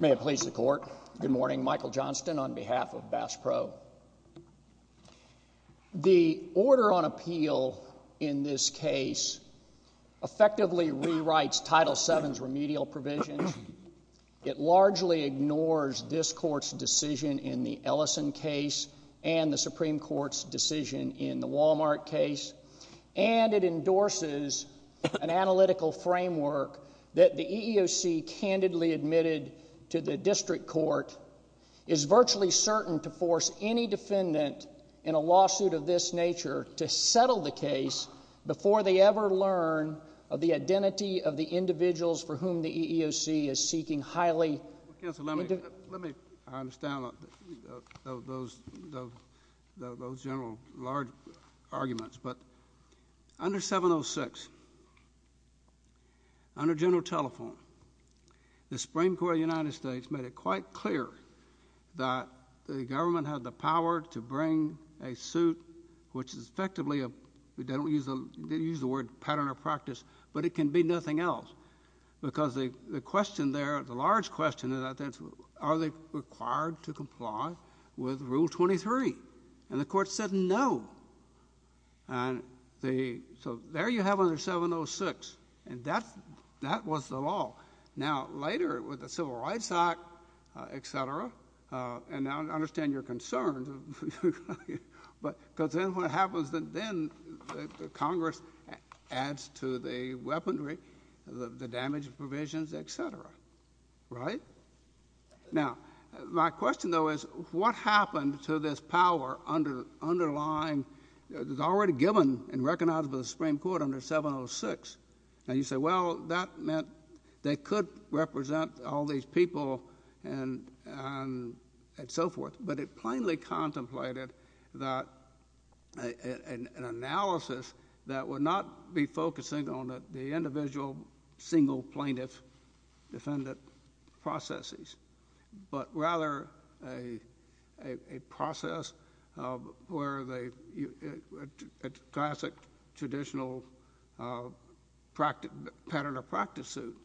May it please the Court. Good morning. Michael Johnston on behalf of Bass Pro. The order on appeal in this case effectively rewrites Title VII's remedial provisions. It largely ignores this Court's decision in the Ellison case and the Supreme Court's decision in the Wal-Mart case. And it endorses an analytical framework that the EEOC candidly admitted to the District Court is virtually certain to force any defendant in a lawsuit of this nature to settle the case before they ever learn of the identity of the individuals for whom the EEOC is seeking highly— Well, counsel, let me understand those general large arguments. But under 706, under General Telephone, the Supreme Court of the United States made it quite clear that the government had the power to bring a suit which is effectively—we don't use the word pattern or practice, but it can be nothing else because the question there, the large question, are they required to comply with Rule 23? And the Court said no. So there you have under 706, and that was the law. Now, later with the Civil Rights Act, et cetera, and I understand your concerns, because then what happens, then Congress adds to the weaponry, the damage provisions, et cetera, right? Now, my question, though, is what happened to this power underlying— it was already given and recognized by the Supreme Court under 706. Now, you say, well, that meant they could represent all these people and so forth, but it plainly contemplated an analysis that would not be focusing on the individual single plaintiff defendant processes, but rather a process where the classic traditional pattern or practice suit—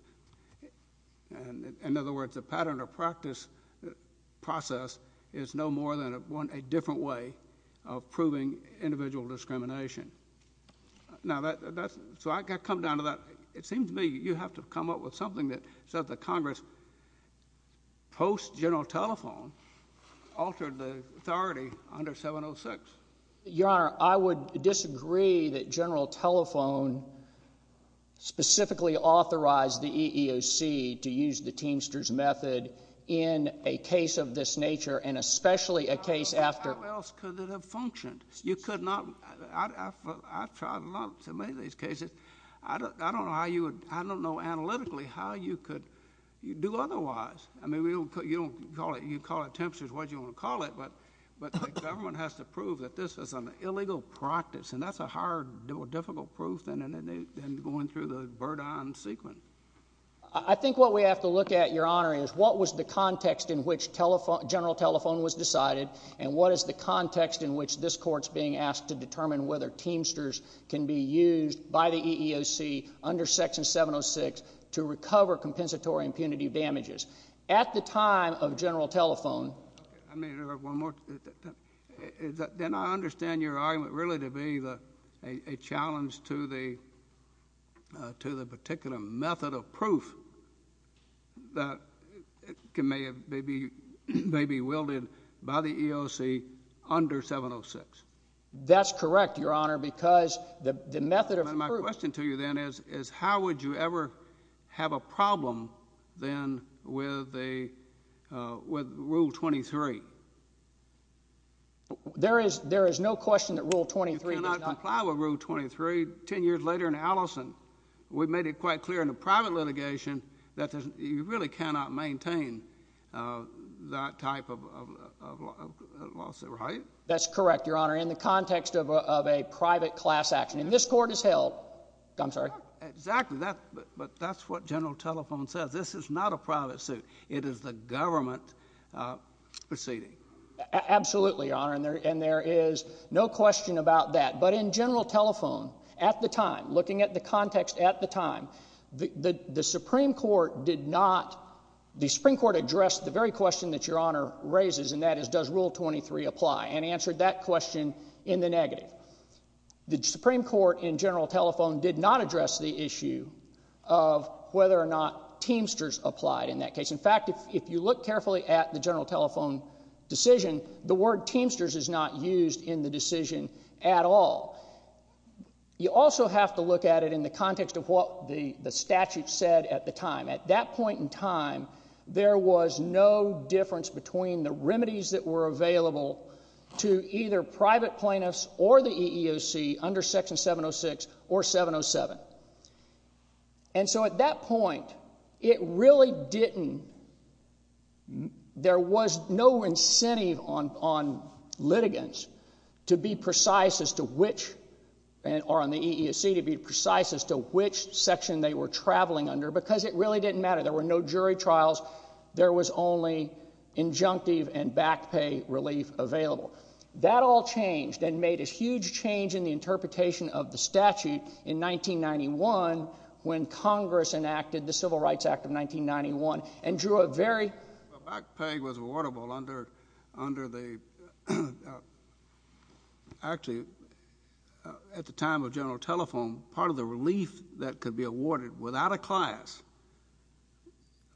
in other words, the pattern or practice process is no more than a different way of proving individual discrimination. Now, that's—so I come down to that. It seems to me you have to come up with something that says that Congress, post-General Telephone, altered the authority under 706. Your Honor, I would disagree that General Telephone specifically authorized the EEOC to use the Teamsters method in a case of this nature and especially a case after— How else could it have functioned? You could not—I've tried a lot to make these cases. I don't know how you would—I don't know analytically how you could do otherwise. I mean, you don't call it—you call it Teamsters, whatever you want to call it, but the government has to prove that this is an illegal practice, and that's a hard or difficult proof than going through the Burdine sequence. I think what we have to look at, Your Honor, is what was the context in which General Telephone was decided and what is the context in which this Court is being asked to determine whether Teamsters can be used by the EEOC under Section 706 to recover compensatory impunity damages. At the time of General Telephone— I mean, one more—then I understand your argument really to be a challenge to the particular method of proof that may be wielded by the EEOC under 706. That's correct, Your Honor, because the method of proof— There is no question that Rule 23 does not— You cannot comply with Rule 23. Ten years later in Allison, we made it quite clear in the private litigation that you really cannot maintain that type of lawsuit, right? That's correct, Your Honor, in the context of a private class action, and this Court has held—I'm sorry? Exactly, but that's what General Telephone says. This is not a private suit. It is the government proceeding. Absolutely, Your Honor, and there is no question about that. But in General Telephone at the time, looking at the context at the time, the Supreme Court did not— the Supreme Court addressed the very question that Your Honor raises, and that is does Rule 23 apply, and answered that question in the negative. The Supreme Court in General Telephone did not address the issue of whether or not Teamsters applied in that case. In fact, if you look carefully at the General Telephone decision, the word Teamsters is not used in the decision at all. You also have to look at it in the context of what the statute said at the time. At that point in time, there was no difference between the remedies that were available to either private plaintiffs or the EEOC under Section 706 or 707. And so at that point, it really didn't—there was no incentive on litigants to be precise as to which— it really didn't matter. There were no jury trials. There was only injunctive and back pay relief available. That all changed and made a huge change in the interpretation of the statute in 1991 when Congress enacted the Civil Rights Act of 1991 and drew a very—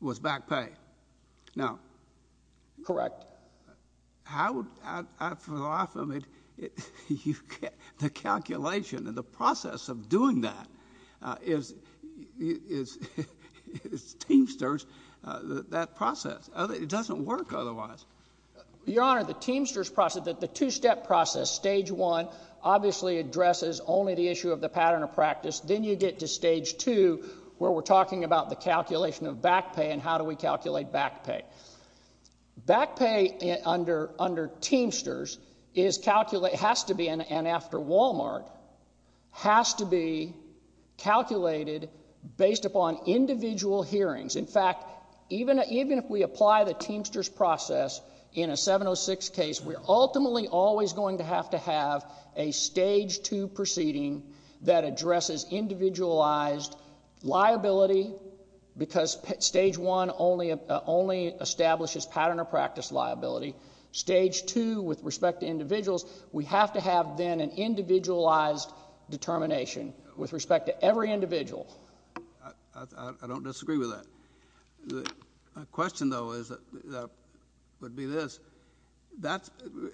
was back pay. Now— Correct. How—for the life of me, the calculation and the process of doing that is Teamsters, that process. It doesn't work otherwise. Your Honor, the Teamsters process, the two-step process, Stage 1, obviously addresses only the issue of the pattern of practice. Then you get to Stage 2 where we're talking about the calculation of back pay and how do we calculate back pay. Back pay under Teamsters is calculated—has to be, and after Wal-Mart, has to be calculated based upon individual hearings. In fact, even if we apply the Teamsters process in a 706 case, we're ultimately always going to have to have a Stage 2 proceeding that addresses individualized liability because Stage 1 only establishes pattern of practice liability. Stage 2, with respect to individuals, we have to have then an individualized determination with respect to every individual. I don't disagree with that. My question, though, is—would be this. That's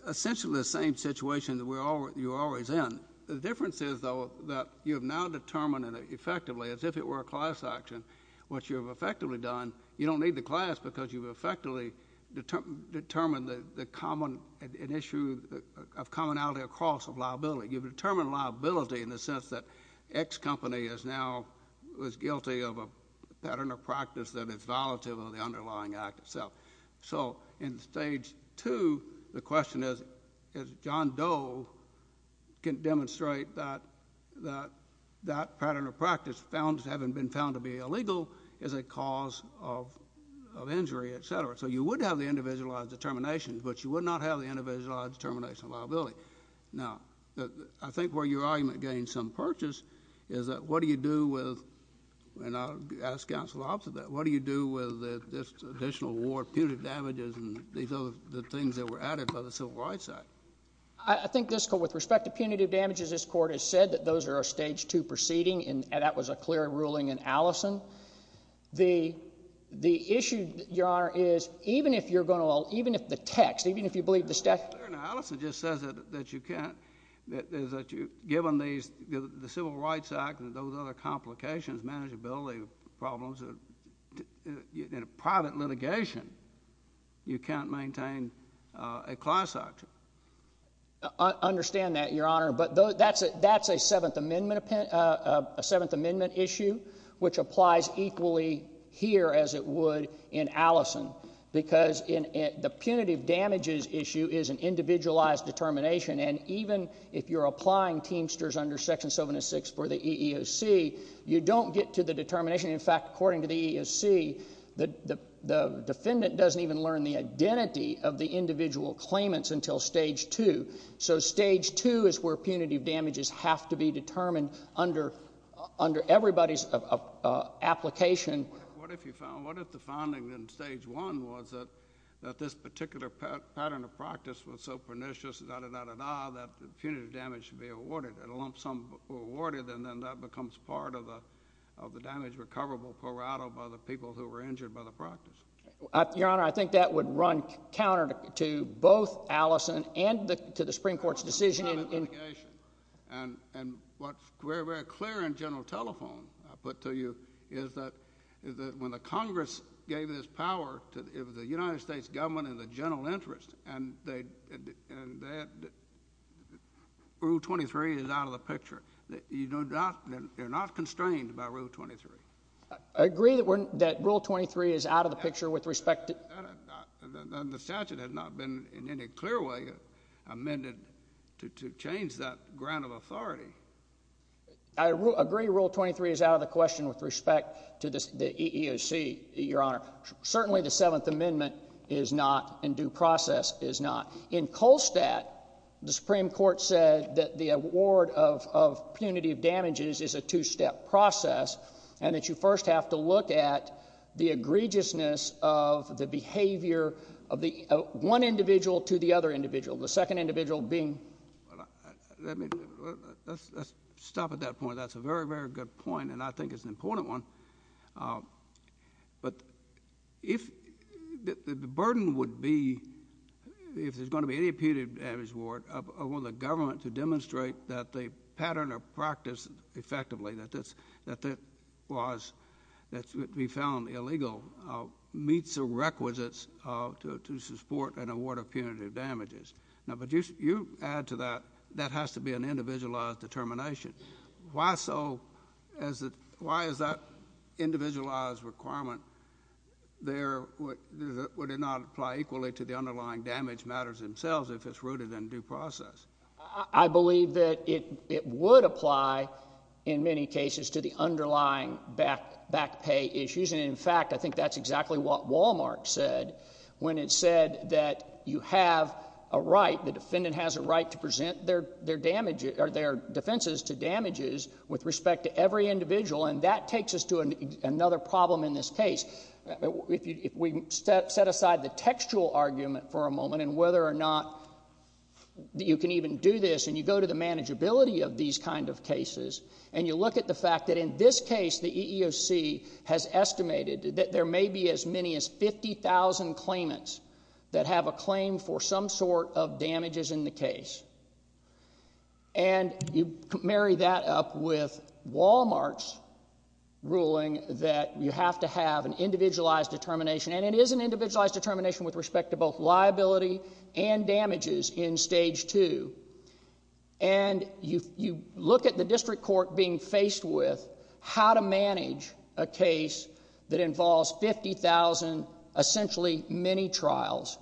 essentially the same situation that you're always in. The difference is, though, that you have now determined effectively, as if it were a class action, what you have effectively done. You don't need the class because you've effectively determined the common—an issue of commonality across of liability. You've determined liability in the sense that X company is now—was guilty of a pattern of practice that is violative of the underlying act itself. In Stage 2, the question is, John Doe can demonstrate that that pattern of practice, having been found to be illegal, is a cause of injury, et cetera. You would have the individualized determination, but you would not have the individualized determination of liability. Now, I think where your argument gains some purchase is that what do you do with—and I'll ask counsel opposite that. What do you do with this additional ward punitive damages and these other things that were added by the Civil Rights Act? I think this—with respect to punitive damages, this Court has said that those are a Stage 2 proceeding, and that was a clear ruling in Allison. The issue, Your Honor, is even if you're going to—even if the text, even if you believe the— Allison just says that you can't—is that you—given these—the Civil Rights Act and those other complications, manageability problems, in a private litigation, you can't maintain a class act. I understand that, Your Honor, but that's a Seventh Amendment issue, which applies equally here as it would in Allison because the punitive damages issue is an individualized determination, and even if you're applying Teamsters under Section 706 for the EEOC, you don't get to the determination. In fact, according to the EEOC, the defendant doesn't even learn the identity of the individual claimants until Stage 2. So Stage 2 is where punitive damages have to be determined under everybody's application. What if you found—what if the finding in Stage 1 was that this particular pattern of practice was so pernicious, da-da-da-da-da, that the punitive damage should be awarded, and a lump sum awarded, and then that becomes part of the damage recoverable pro rata by the people who were injured by the practice? Your Honor, I think that would run counter to both Allison and to the Supreme Court's decision in— And what's very, very clear in general telephone, I'll put to you, is that when the Congress gave this power to the United States government in the general interest, and that Rule 23 is out of the picture, you're not constrained by Rule 23. I agree that Rule 23 is out of the picture with respect to— The statute has not been in any clear way amended to change that ground of authority. I agree Rule 23 is out of the question with respect to the EEOC, Your Honor. Certainly the Seventh Amendment is not and due process is not. In Kolstadt, the Supreme Court said that the award of punitive damages is a two-step process and that you first have to look at the egregiousness of the behavior of one individual to the other individual, the second individual being— Let's stop at that point. That's a very, very good point, and I think it's an important one. But if the burden would be, if there's going to be any punitive damage award, I want the government to demonstrate that the pattern of practice, effectively, that we found illegal meets the requisites to support an award of punitive damages. But you add to that, that has to be an individualized determination. Why is that individualized requirement there? Would it not apply equally to the underlying damage matters themselves if it's rooted in due process? I believe that it would apply in many cases to the underlying back pay issues, and, in fact, I think that's exactly what Wal-Mart said when it said that you have a right, the defendant has a right to present their defenses to damages with respect to every individual, and that takes us to another problem in this case. If we set aside the textual argument for a moment, and whether or not you can even do this, and you go to the manageability of these kind of cases, and you look at the fact that in this case the EEOC has estimated that there may be as many as 50,000 claimants that have a claim for some sort of damages in the case, and you marry that up with Wal-Mart's ruling that you have to have an individualized determination, and it is an individualized determination with respect to both liability and damages in Stage 2, and you look at the district court being faced with how to manage a case that involves 50,000, essentially many trials,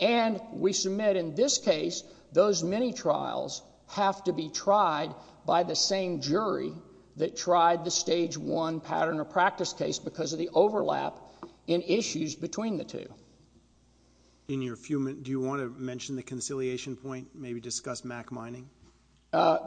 and we submit in this case those many trials have to be tried by the same jury that tried the Stage 1 pattern of practice case because of the overlap in issues between the two. In your few minutes, do you want to mention the conciliation point, maybe discuss mock mining?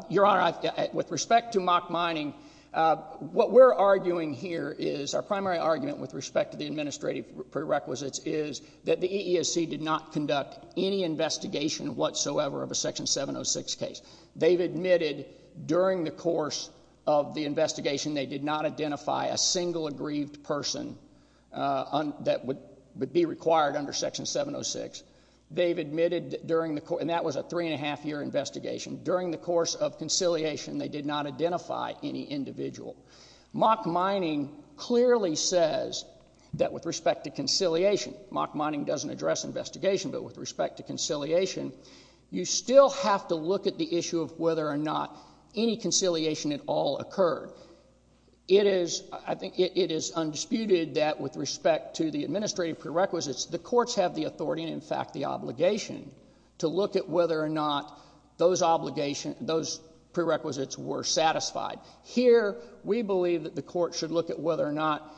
Your Honor, with respect to mock mining, what we're arguing here is our primary argument with respect to the administrative prerequisites is that the EEOC did not conduct any investigation whatsoever of a Section 706 case. They've admitted during the course of the investigation they did not identify a single aggrieved person that would be required under Section 706. They've admitted during the course, and that was a three-and-a-half-year investigation, during the course of conciliation they did not identify any individual. Mock mining clearly says that with respect to conciliation, mock mining doesn't address investigation, but with respect to conciliation, you still have to look at the issue of whether or not any conciliation at all occurred. It is undisputed that with respect to the administrative prerequisites, the courts have the authority, and in fact the obligation, to look at whether or not those prerequisites were satisfied. Here we believe that the court should look at whether or not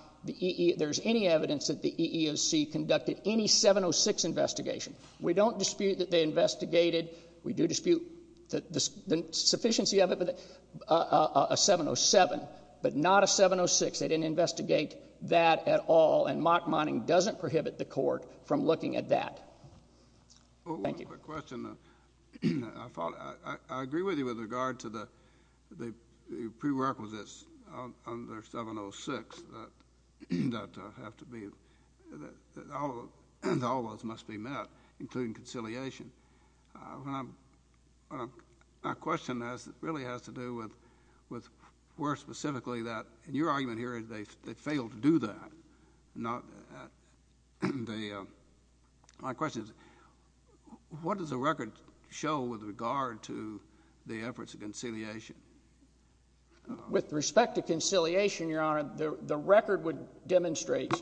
there's any evidence that the EEOC conducted any 706 investigation. We don't dispute that they investigated. We do dispute the sufficiency of a 707, but not a 706. They didn't investigate that at all, and mock mining doesn't prohibit the court from looking at that. Thank you. I have a question. I agree with you with regard to the prerequisites under 706 that have to be, that all of those must be met, including conciliation. My question really has to do with where specifically that, and your argument here is they failed to do that. My question is what does the record show with regard to the efforts of conciliation? With respect to conciliation, Your Honor, the record would demonstrate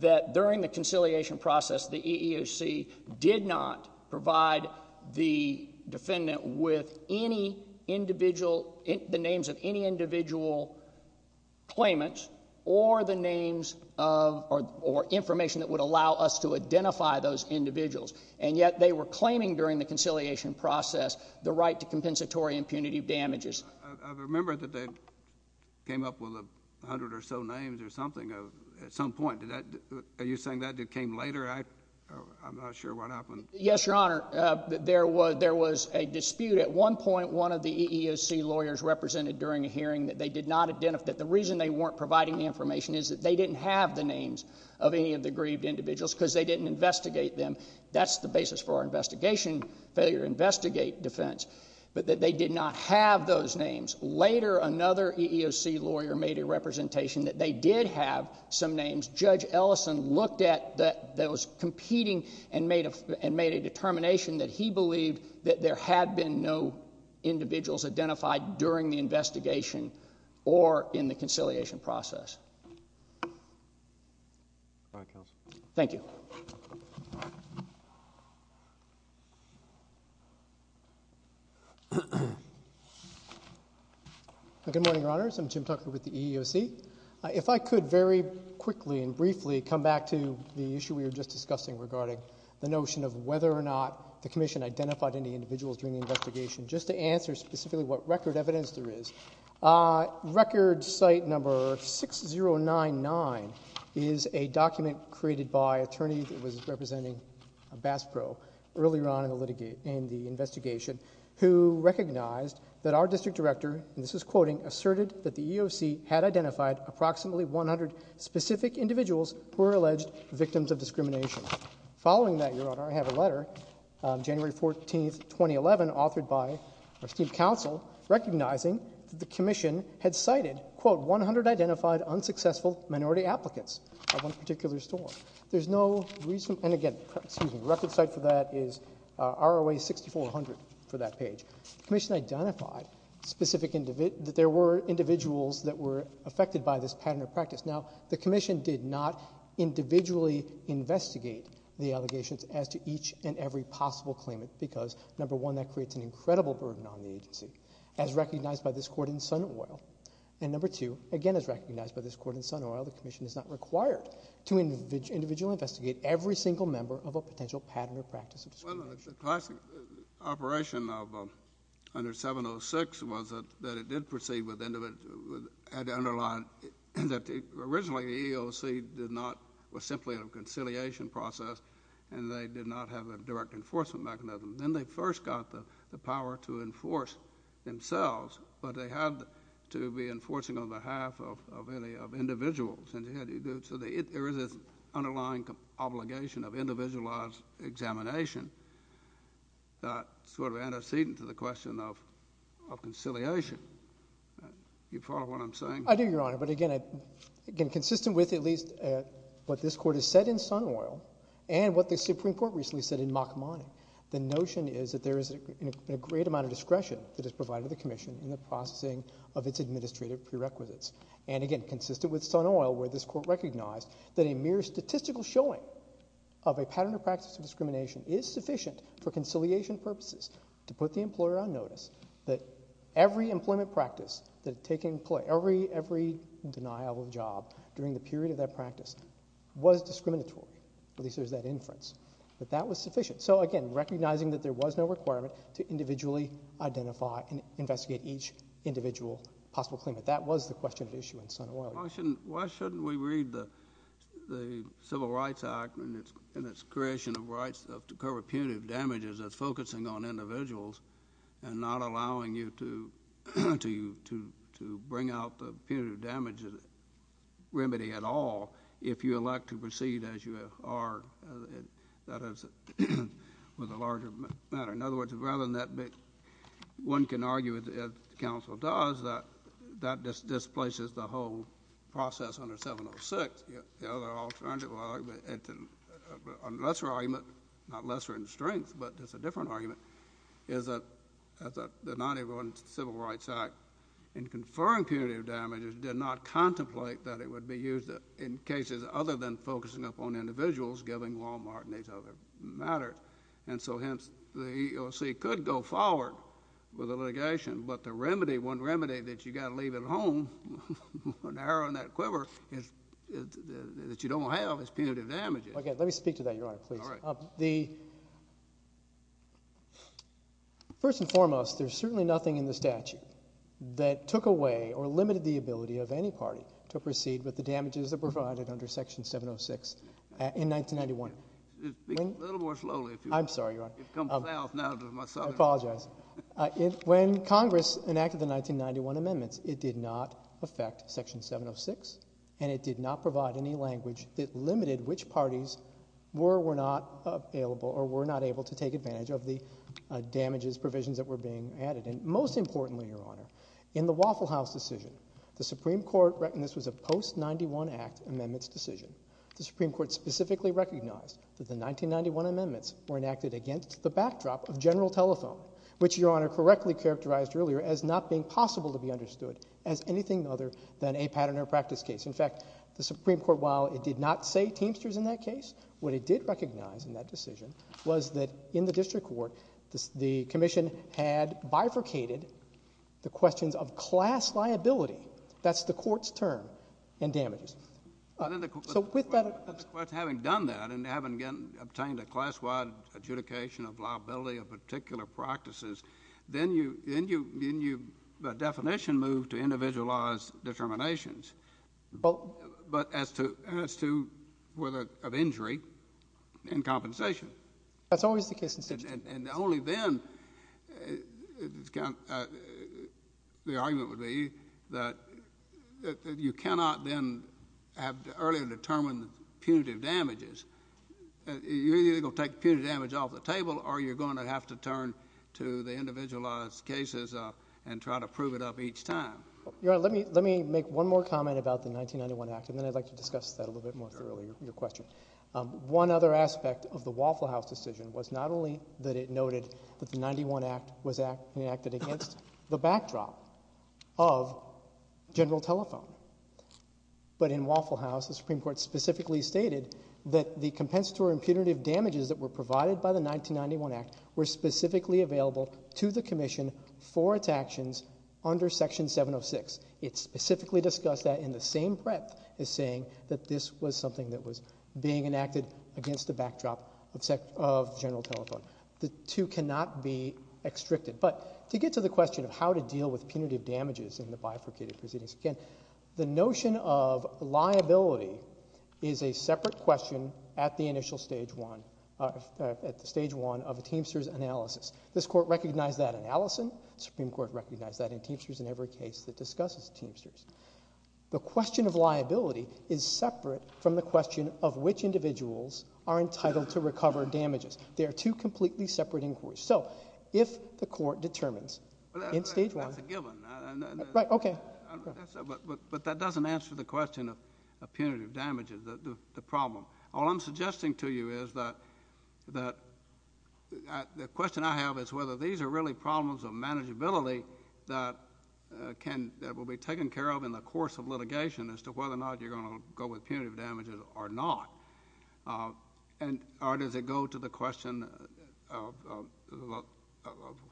that during the conciliation process, the EEOC did not provide the defendant with any individual, the names of any individual claimants or the names of, or information that would allow us to identify those individuals, and yet they were claiming during the conciliation process the right to compensatory impunity damages. I remember that they came up with a hundred or so names or something at some point. Are you saying that came later? I'm not sure what happened. Yes, Your Honor. There was a dispute. At one point, one of the EEOC lawyers represented during a hearing that they did not identify. The reason they weren't providing the information is that they didn't have the names of any of the grieved individuals because they didn't investigate them. That's the basis for our investigation, failure to investigate defense, but that they did not have those names. Later, another EEOC lawyer made a representation that they did have some names. Judge Ellison looked at those competing and made a determination that he believed that there had been no individuals identified during the investigation or in the conciliation process. All right, counsel. Thank you. Good morning, Your Honors. I'm Jim Tucker with the EEOC. If I could very quickly and briefly come back to the issue we were just discussing regarding the notion of whether or not the Commission identified any individuals during the investigation, just to answer specifically what record evidence there is. Record site number 6099 is a document created by an attorney that was representing BASPRO earlier on in the investigation who recognized that our district director, and this is quoting, asserted that the EEOC had identified approximately 100 specific individuals who were alleged victims of discrimination. Following that, Your Honor, I have a letter, January 14, 2011, authored by our esteemed counsel recognizing that the Commission had cited quote, 100 identified unsuccessful minority applicants at one particular store. There's no reason, and again, excuse me, record site for that is ROA 6400 for that page. The Commission identified that there were individuals that were affected by this pattern of practice. Now, the Commission did not individually investigate the allegations as to each and every possible claimant because, number one, that creates an incredible burden on the agency, as recognized by this court in Sun Oil, and number two, again as recognized by this court in Sun Oil, the Commission is not required to individually investigate every single member of a potential pattern or practice of discrimination. Well, the classic operation under 706 was that it did proceed with individual, had to underline that originally the EEOC did not, was simply a conciliation process, and they did not have a direct enforcement mechanism. Then they first got the power to enforce themselves, but they had to be enforcing on behalf of individuals. So there is this underlying obligation of individualized examination that sort of antecedent to the question of conciliation. Do you follow what I'm saying? I do, Your Honor, but again, consistent with at least what this court has said in Sun Oil and what the Supreme Court recently said in Makamani, the notion is that there is a great amount of discretion that is provided to the Commission in the processing of its administrative prerequisites. And again, consistent with Sun Oil, where this court recognized that a mere statistical showing of a pattern or practice of discrimination is sufficient for conciliation purposes to put the employer on notice that every employment practice that had taken place, every denial of a job during the period of that practice was discriminatory, at least there's that inference, that that was sufficient. So again, recognizing that there was no requirement to individually identify and investigate each individual possible claimant. That was the question at issue in Sun Oil. Why shouldn't we read the Civil Rights Act and its creation of rights to cover punitive damages as focusing on individuals and not allowing you to bring out the punitive damages remedy at all if you elect to proceed as you are, that is, with a larger matter? In other words, rather than that, one can argue, as counsel does, that that displaces the whole process under 706. The other alternative argument, a lesser argument, not lesser in strength, but it's a different argument, is that the 1991 Civil Rights Act in conferring punitive damages did not contemplate that it would be used in cases other than focusing upon individuals, giving Wal-Mart and these other matters, and so hence the EEOC could go forward with the litigation, but the remedy, one remedy that you've got to leave at home, narrowing that quiver, that you don't have is punitive damages. Let me speak to that, Your Honor, please. All right. First and foremost, there's certainly nothing in the statute that took away or limited the ability of any party to proceed with the damages that were provided under Section 706 in 1991. Speak a little more slowly. I'm sorry, Your Honor. You've come south now to my southern home. I apologize. When Congress enacted the 1991 amendments, it did not affect Section 706 and it did not provide any language that limited which parties were or were not available or were not able to take advantage of the damages, provisions that were being added. And most importantly, Your Honor, in the Waffle House decision, the Supreme Court reckoned this was a post-91 Act amendments decision. The Supreme Court specifically recognized that the 1991 amendments were enacted against the backdrop of general telephone, which Your Honor correctly characterized earlier as not being possible to be understood as anything other than a pattern or practice case. In fact, the Supreme Court, while it did not say Teamsters in that case, what it did recognize in that decision was that in the district court, the commission had bifurcated the questions of class liability, that's the court's term, and damages. Having done that and having obtained a class-wide adjudication of liability of particular practices, then the definition moved to individualized determinations, but as to whether of injury and compensation. That's always the case in the district court. And only then the argument would be that you cannot then have earlier determined punitive damages. You're either going to take punitive damage off the table, or you're going to have to turn to the individualized cases and try to prove it up each time. Your Honor, let me make one more comment about the 1991 Act, and then I'd like to discuss that a little bit more thoroughly, your question. One other aspect of the Waffle House decision was not only that it noted that the 1991 Act was enacted against the backdrop of general telephone, but in Waffle House, the Supreme Court specifically stated that the compensatory and punitive damages that were provided by the 1991 Act were specifically available to the commission for its actions under Section 706. It specifically discussed that in the same breadth as saying that this was something that was being enacted against the backdrop of general telephone. The two cannot be extricated. But to get to the question of how to deal with punitive damages in the bifurcated proceedings, again, the notion of liability is a separate question at the initial Stage 1, at the Stage 1 of a Teamsters analysis. This Court recognized that in Allison. The Supreme Court recognized that in Teamsters in every case that discusses Teamsters. The question of liability is separate from the question of which individuals are entitled to recover damages. They are two completely separate inquiries. So if the Court determines in Stage 1... That's a given. Right, okay. But that doesn't answer the question of punitive damages, the problem. All I'm suggesting to you is that the question I have is whether these are really problems of manageability that will be taken care of in the course of litigation as to whether or not you're going to go with punitive damages or not. Or does it go to the question of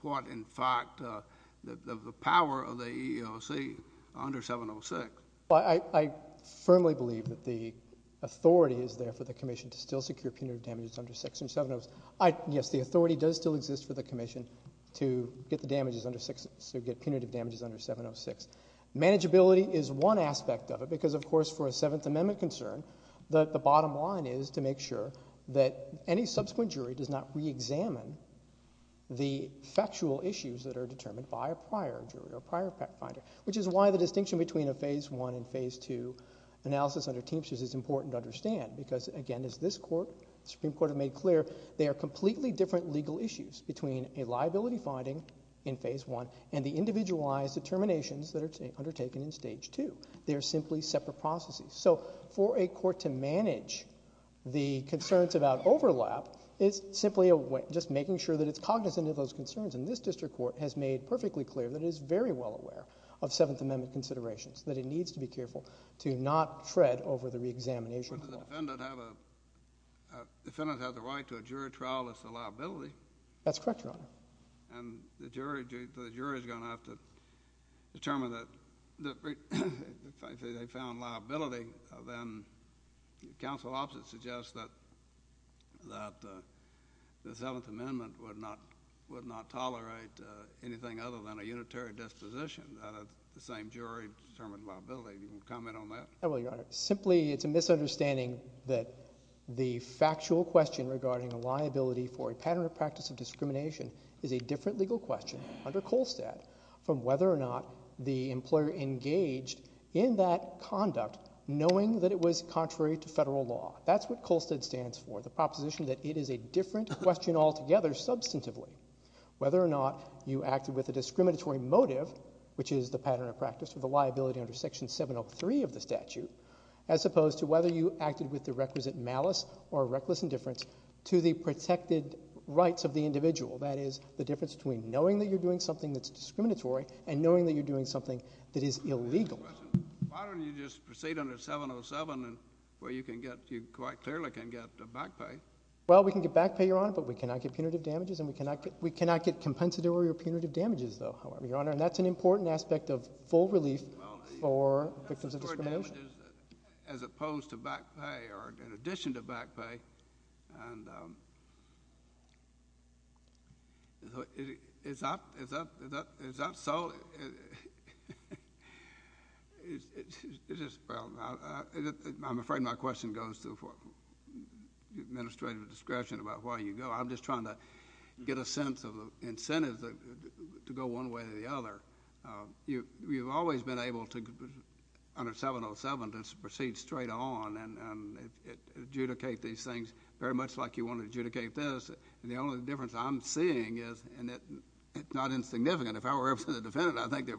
what, in fact, the power of the EEOC under 706? I firmly believe that the authority is there for the Commission to still secure punitive damages under Section 706. Yes, the authority does still exist for the Commission to get the damages under... to get punitive damages under 706. Manageability is one aspect of it because, of course, for a Seventh Amendment concern, the bottom line is to make sure that any subsequent jury does not re-examine the factual issues that are determined by a prior jury or a prior fact-finder, which is why the distinction between a Phase 1 and Phase 2 analysis under Teamsters is important to understand because, again, as this Court, the Supreme Court, have made clear, they are completely different legal issues between a liability finding in Phase 1 and the individualized determinations that are undertaken in Stage 2. They are simply separate processes. So for a court to manage the concerns about overlap is simply just making sure that it's cognizant of those concerns. And this district court has made perfectly clear that it is very well aware of Seventh Amendment considerations, but the defendant has a right to a jury trial if it's a liability. That's correct, Your Honor. And the jury is going to have to determine that... if they found liability, then counsel opposite suggests that the Seventh Amendment would not tolerate anything other than a unitary disposition. That the same jury determined liability. Do you want to comment on that? I will, Your Honor. Simply, it's a misunderstanding that the factual question regarding a liability for a pattern of practice of discrimination is a different legal question under Kolstad from whether or not the employer engaged in that conduct knowing that it was contrary to federal law. That's what Kolstad stands for, the proposition that it is a different question altogether substantively. Whether or not you acted with a discriminatory motive, which is the pattern of practice for the liability under Section 703 of the statute, as opposed to whether you acted with the requisite malice or reckless indifference to the protected rights of the individual. That is, the difference between knowing that you're doing something that's discriminatory and knowing that you're doing something that is illegal. Why don't you just proceed under 707 where you quite clearly can get back pay? Well, we can get back pay, Your Honor, but we cannot get punitive damages. We cannot get compensatory or punitive damages, though, Your Honor. That's an important aspect of full relief for victims of discrimination. As opposed to back pay, or in addition to back pay. Is that so? I'm afraid my question goes to the administrative discretion about where you go. I'm just trying to get a sense of the incentives to go one way or the other. You've always been able to, under 707, to proceed straight on and adjudicate these things very much like you want to adjudicate this. The only difference I'm seeing is... It's not insignificant. If I were representing the defendant, I think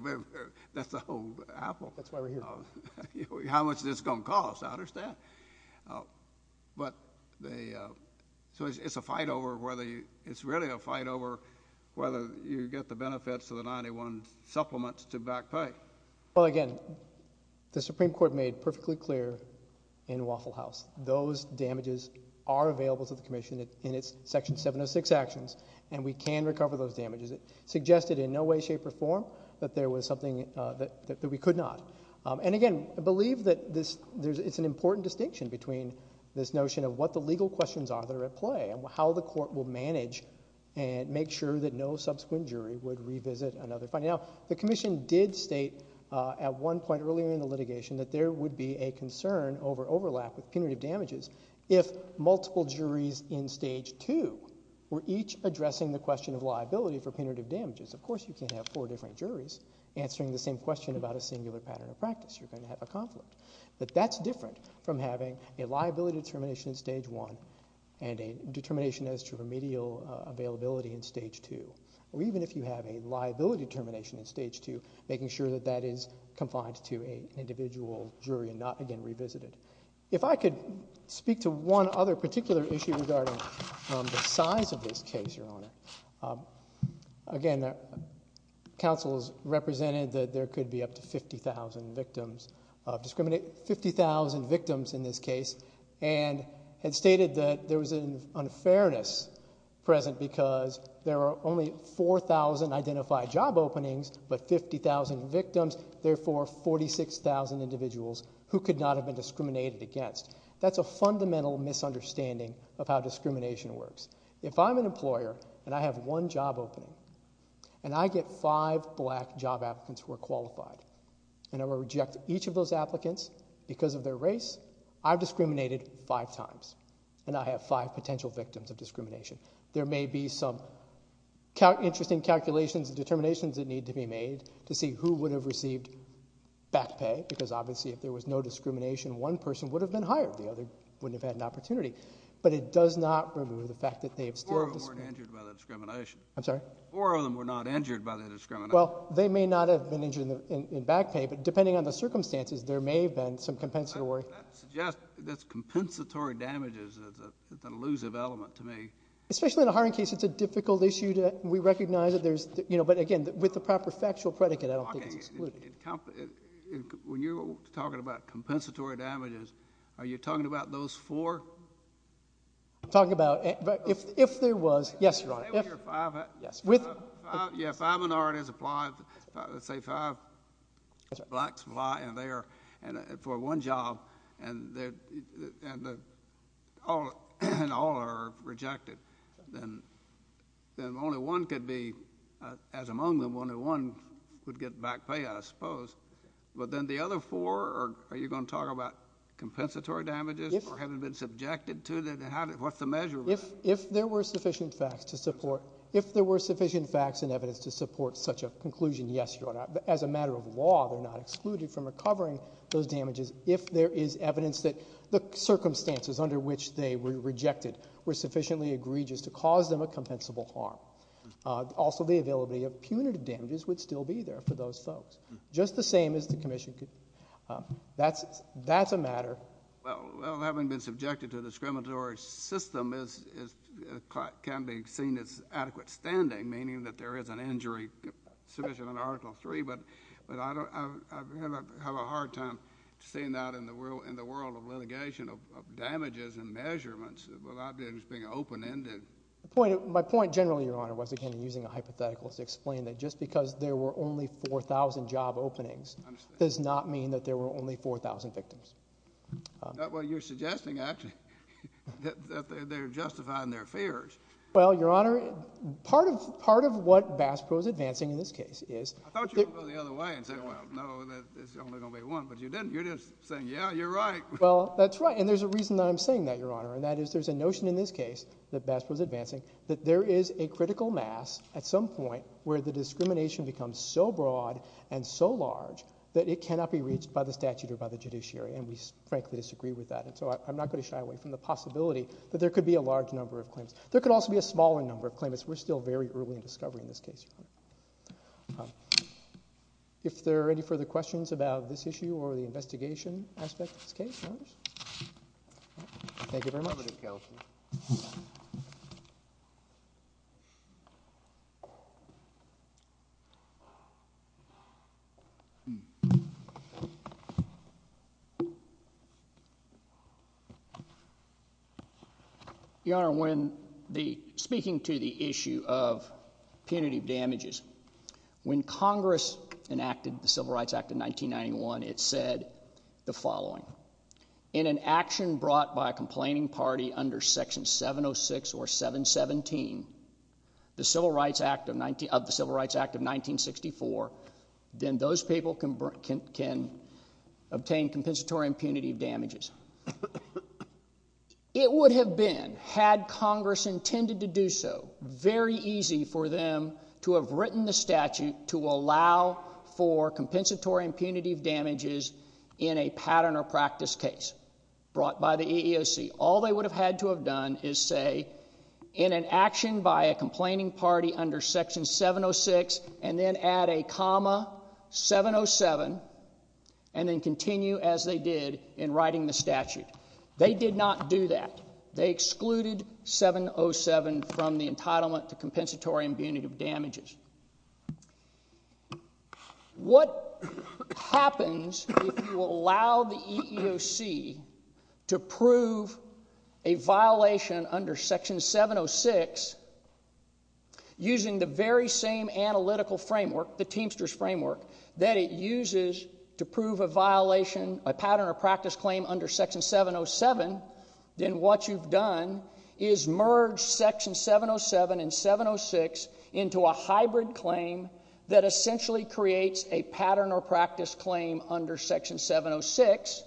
that's a whole apple. That's why we're here. How much is this going to cost? I understand. So it's a fight over whether you... It's really a fight over whether you get the benefits of the 91 supplements to back pay. Well, again, the Supreme Court made perfectly clear in Waffle House, those damages are available to the Commission in its Section 706 actions, and we can recover those damages. It suggested in no way, shape, or form that there was something that we could not. Again, I believe that it's an important distinction between this notion of what the legal questions are that are at play and how the court will manage and make sure that no subsequent jury would revisit another finding. Now, the Commission did state at one point earlier in the litigation that there would be a concern over overlap with punitive damages if multiple juries in Stage 2 were each addressing the question of liability for punitive damages. Of course, you can't have four different juries answering the same question about a singular pattern of practice. You're going to have a conflict. But that's different from having a liability determination in Stage 1 and a determination as to remedial availability in Stage 2, or even if you have a liability determination in Stage 2, making sure that that is confined to an individual jury and not, again, revisited. If I could speak to one other particular issue regarding the size of this case, Your Honor. Again, counsel has represented that there could be up to 50,000 victims in this case and had stated that there was an unfairness present because there are only 4,000 identified job openings but 50,000 victims, therefore 46,000 individuals who could not have been discriminated against. That's a fundamental misunderstanding of how discrimination works. If I'm an employer and I have one job opening and I get five black job applicants who are qualified and I will reject each of those applicants because of their race, I've discriminated five times and I have five potential victims of discrimination. There may be some interesting calculations and determinations that need to be made to see who would have received back pay because obviously if there was no discrimination, one person would have been hired. The other wouldn't have had an opportunity. But it does not remove the fact that they have still discriminated. Four of them weren't injured by the discrimination. I'm sorry? Four of them were not injured by the discrimination. Well, they may not have been injured in back pay, but depending on the circumstances, there may have been some compensatory. That suggests that compensatory damages is an elusive element to me. Especially in a hiring case, it's a difficult issue. We recognize that there's, you know, but again, with the proper factual predicate, I don't think it's excluded. When you're talking about compensatory damages, are you talking about those four? I'm talking about if there was. Yes, Your Honor. Yes, five minorities apply. Let's say five blacks apply and they are for one job and all are rejected. Then only one could be, as among them, only one would get back pay, I suppose. But then the other four, are you going to talk about compensatory damages or have they been subjected to them? What's the measure of that? If there were sufficient facts and evidence to support such a conclusion, yes, Your Honor. As a matter of law, they're not excluded from recovering those damages if there is evidence that the circumstances under which they were rejected were sufficiently egregious to cause them a compensable harm. Also, the availability of punitive damages would still be there for those folks. Just the same as the commission could. That's a matter. Well, having been subjected to a discriminatory system can be seen as adequate standing, meaning that there is an injury submission in Article III, but I have a hard time seeing that in the world of litigation of damages and measurements without it being open-ended. My point generally, Your Honor, was again using a hypothetical to explain that just because there were only 4,000 job openings does not mean that there were only 4,000 victims. Well, you're suggesting actually that they're justifying their fears. Well, Your Honor, part of what Bass Pro is advancing in this case is... I thought you were going to go the other way and say, well, no, there's only going to be one, but you didn't. You're just saying, yeah, you're right. Well, that's right, and there's a reason that I'm saying that, Your Honor, and that is there's a notion in this case that Bass Pro is advancing that there is a critical mass at some point where the discrimination becomes so broad and so large that it cannot be reached by the statute or by the judiciary, and we frankly disagree with that, and so I'm not going to shy away from the possibility that there could be a large number of claims. There could also be a smaller number of claims. We're still very early in discovery in this case, Your Honor. If there are any further questions about this issue or the investigation aspect of this case, Your Honor? Thank you very much. Conservative counsel. Your Honor, when the... Speaking to the issue of punitive damages, when Congress enacted the Civil Rights Act of 1991, it said the following. In an action brought by a complaining party under Section 706 or 717 of the Civil Rights Act of 1964, then those people can obtain compensatory and punitive damages. It would have been, had Congress intended to do so, very easy for them to have written the statute to allow for compensatory and punitive damages in a pattern or practice case brought by the EEOC. All they would have had to have done is say, in an action by a complaining party under Section 706, and then add a comma, 707, and then continue as they did in writing the statute. They did not do that. They excluded 707 from the entitlement to compensatory and punitive damages. What happens if you allow the EEOC to prove a violation under Section 706 using the very same analytical framework, the Teamsters framework, that it uses to prove a violation, a pattern or practice claim under Section 707, then what you've done is merged Section 707 and 706 into a hybrid claim that essentially creates a pattern or practice claim under Section 706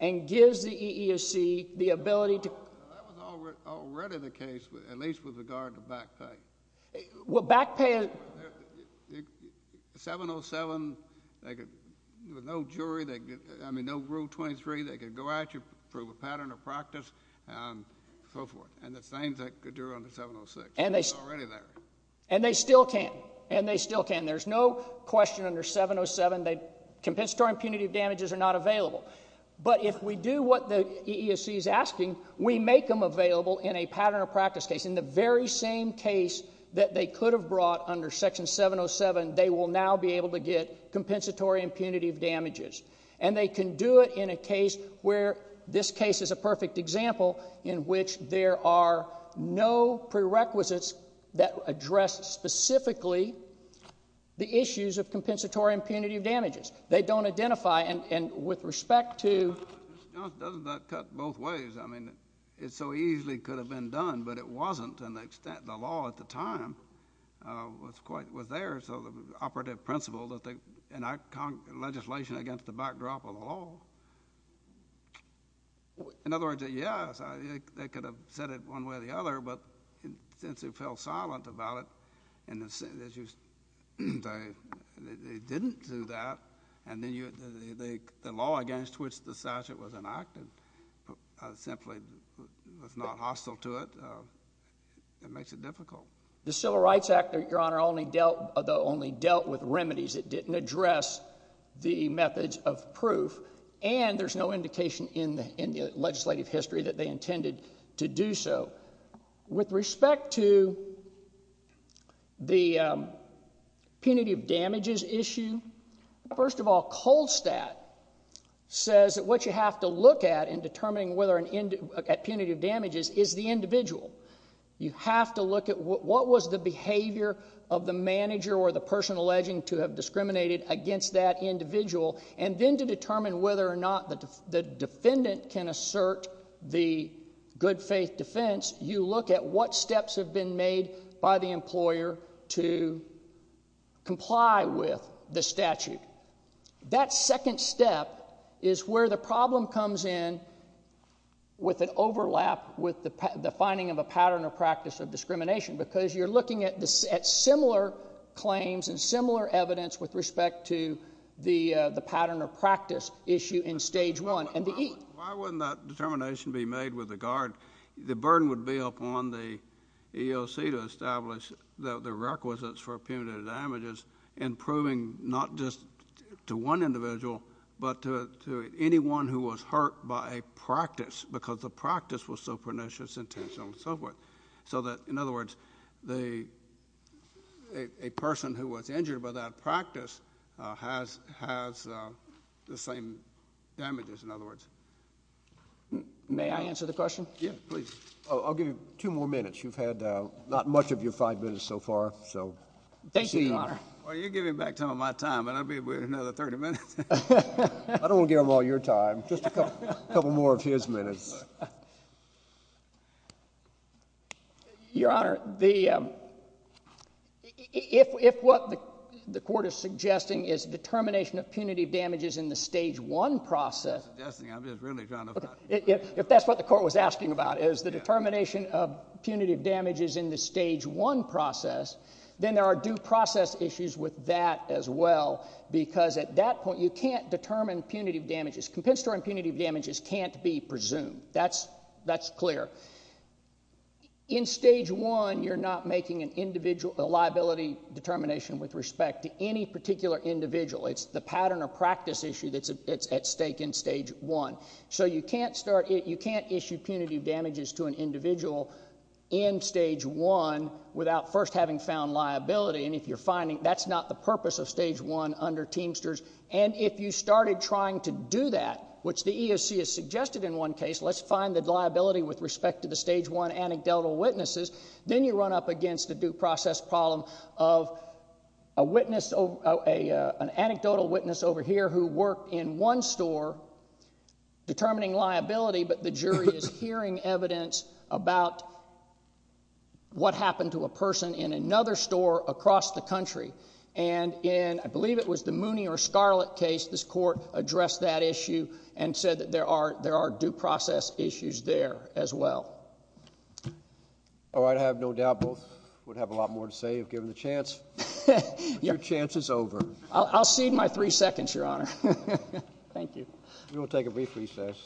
and gives the EEOC the ability to... That was already the case, at least with regard to back pay. Well, back pay... 707, they could... There was no jury, I mean, no Rule 23. They could go at you, prove a pattern or practice, and so forth. And the same thing could do under 706. And they still can. And they still can. There's no question under 707 that compensatory and punitive damages are not available. But if we do what the EEOC is asking, we make them available in a pattern or practice case, in the very same case that they could have brought under Section 707, they will now be able to get compensatory and punitive damages. And they can do it in a case where this case is a perfect example in which there are no prerequisites that address specifically the issues of compensatory and punitive damages. They don't identify, and with respect to... Doesn't that cut both ways? I mean, it so easily could have been done, but it wasn't to an extent. The law at the time was quite... was there, so the operative principle that they... And I...legislation against the backdrop of the law. In other words, yes, they could have said it one way or the other, but since they fell silent about it, and they didn't do that, and then the law against which the statute was enacted simply was not hostile to it, it makes it difficult. The Civil Rights Act, Your Honour, only dealt with remedies. It didn't address the methods of proof and there's no indication in the legislative history that they intended to do so. With respect to the punitive damages issue, first of all, Cold Stat says that what you have to look at in determining whether a punitive damages is the individual. You have to look at what was the behavior of the manager or the person alleging to have discriminated against that individual, and then to determine whether or not the defendant can assert the good faith defense, you look at what steps have been made by the employer to comply with the statute. That second step is where the problem comes in with an overlap with the finding of a pattern or practice of discrimination, because you're looking at similar claims and similar evidence with respect to the pattern or practice issue in Stage 1 and the E. Why wouldn't that determination be made with regard... The burden would be upon the EOC to establish the requisites for punitive damages in proving not just to one individual but to anyone who was hurt by a practice, because the practice was so pernicious, intentional, and so forth, so that, in other words, a person who was injured by that practice has the same damages, in other words. May I answer the question? Yes, please. I'll give you two more minutes. You've had not much of your five minutes so far. Thank you, Your Honor. You're giving back some of my time, but I'll be with you another 30 minutes. I don't want to give him all your time. Just a couple more of his minutes. Your Honor, the... If what the court is suggesting is determination of punitive damages in the Stage 1 process... I'm not suggesting. I'm just really trying to... If that's what the court was asking about, is the determination of punitive damages in the Stage 1 process, then there are due process issues with that as well, because at that point, you can't determine punitive damages. Compensatory punitive damages can't be presumed. That's clear. In Stage 1, you're not making a liability determination with respect to any particular individual. It's the pattern or practice issue that's at stake in Stage 1. So you can't start... You can't issue punitive damages to an individual in Stage 1 without first having found liability. And if you're finding... That's not the purpose of Stage 1 under Teamsters. And if you started trying to do that, which the EOC has suggested in one case... Let's find the liability with respect to the Stage 1 anecdotal witnesses. Then you run up against a due process problem of a witness... an anecdotal witness over here who worked in one store determining liability, but the jury is hearing evidence about what happened to a person in another store across the country. And in... I believe it was the Mooney or Scarlett case, this court addressed that issue and said that there are due process issues there as well. All right. I have no doubt both would have a lot more to say if given the chance. Your chance is over. I'll cede my three seconds, Your Honor. Thank you. We will take a brief recess.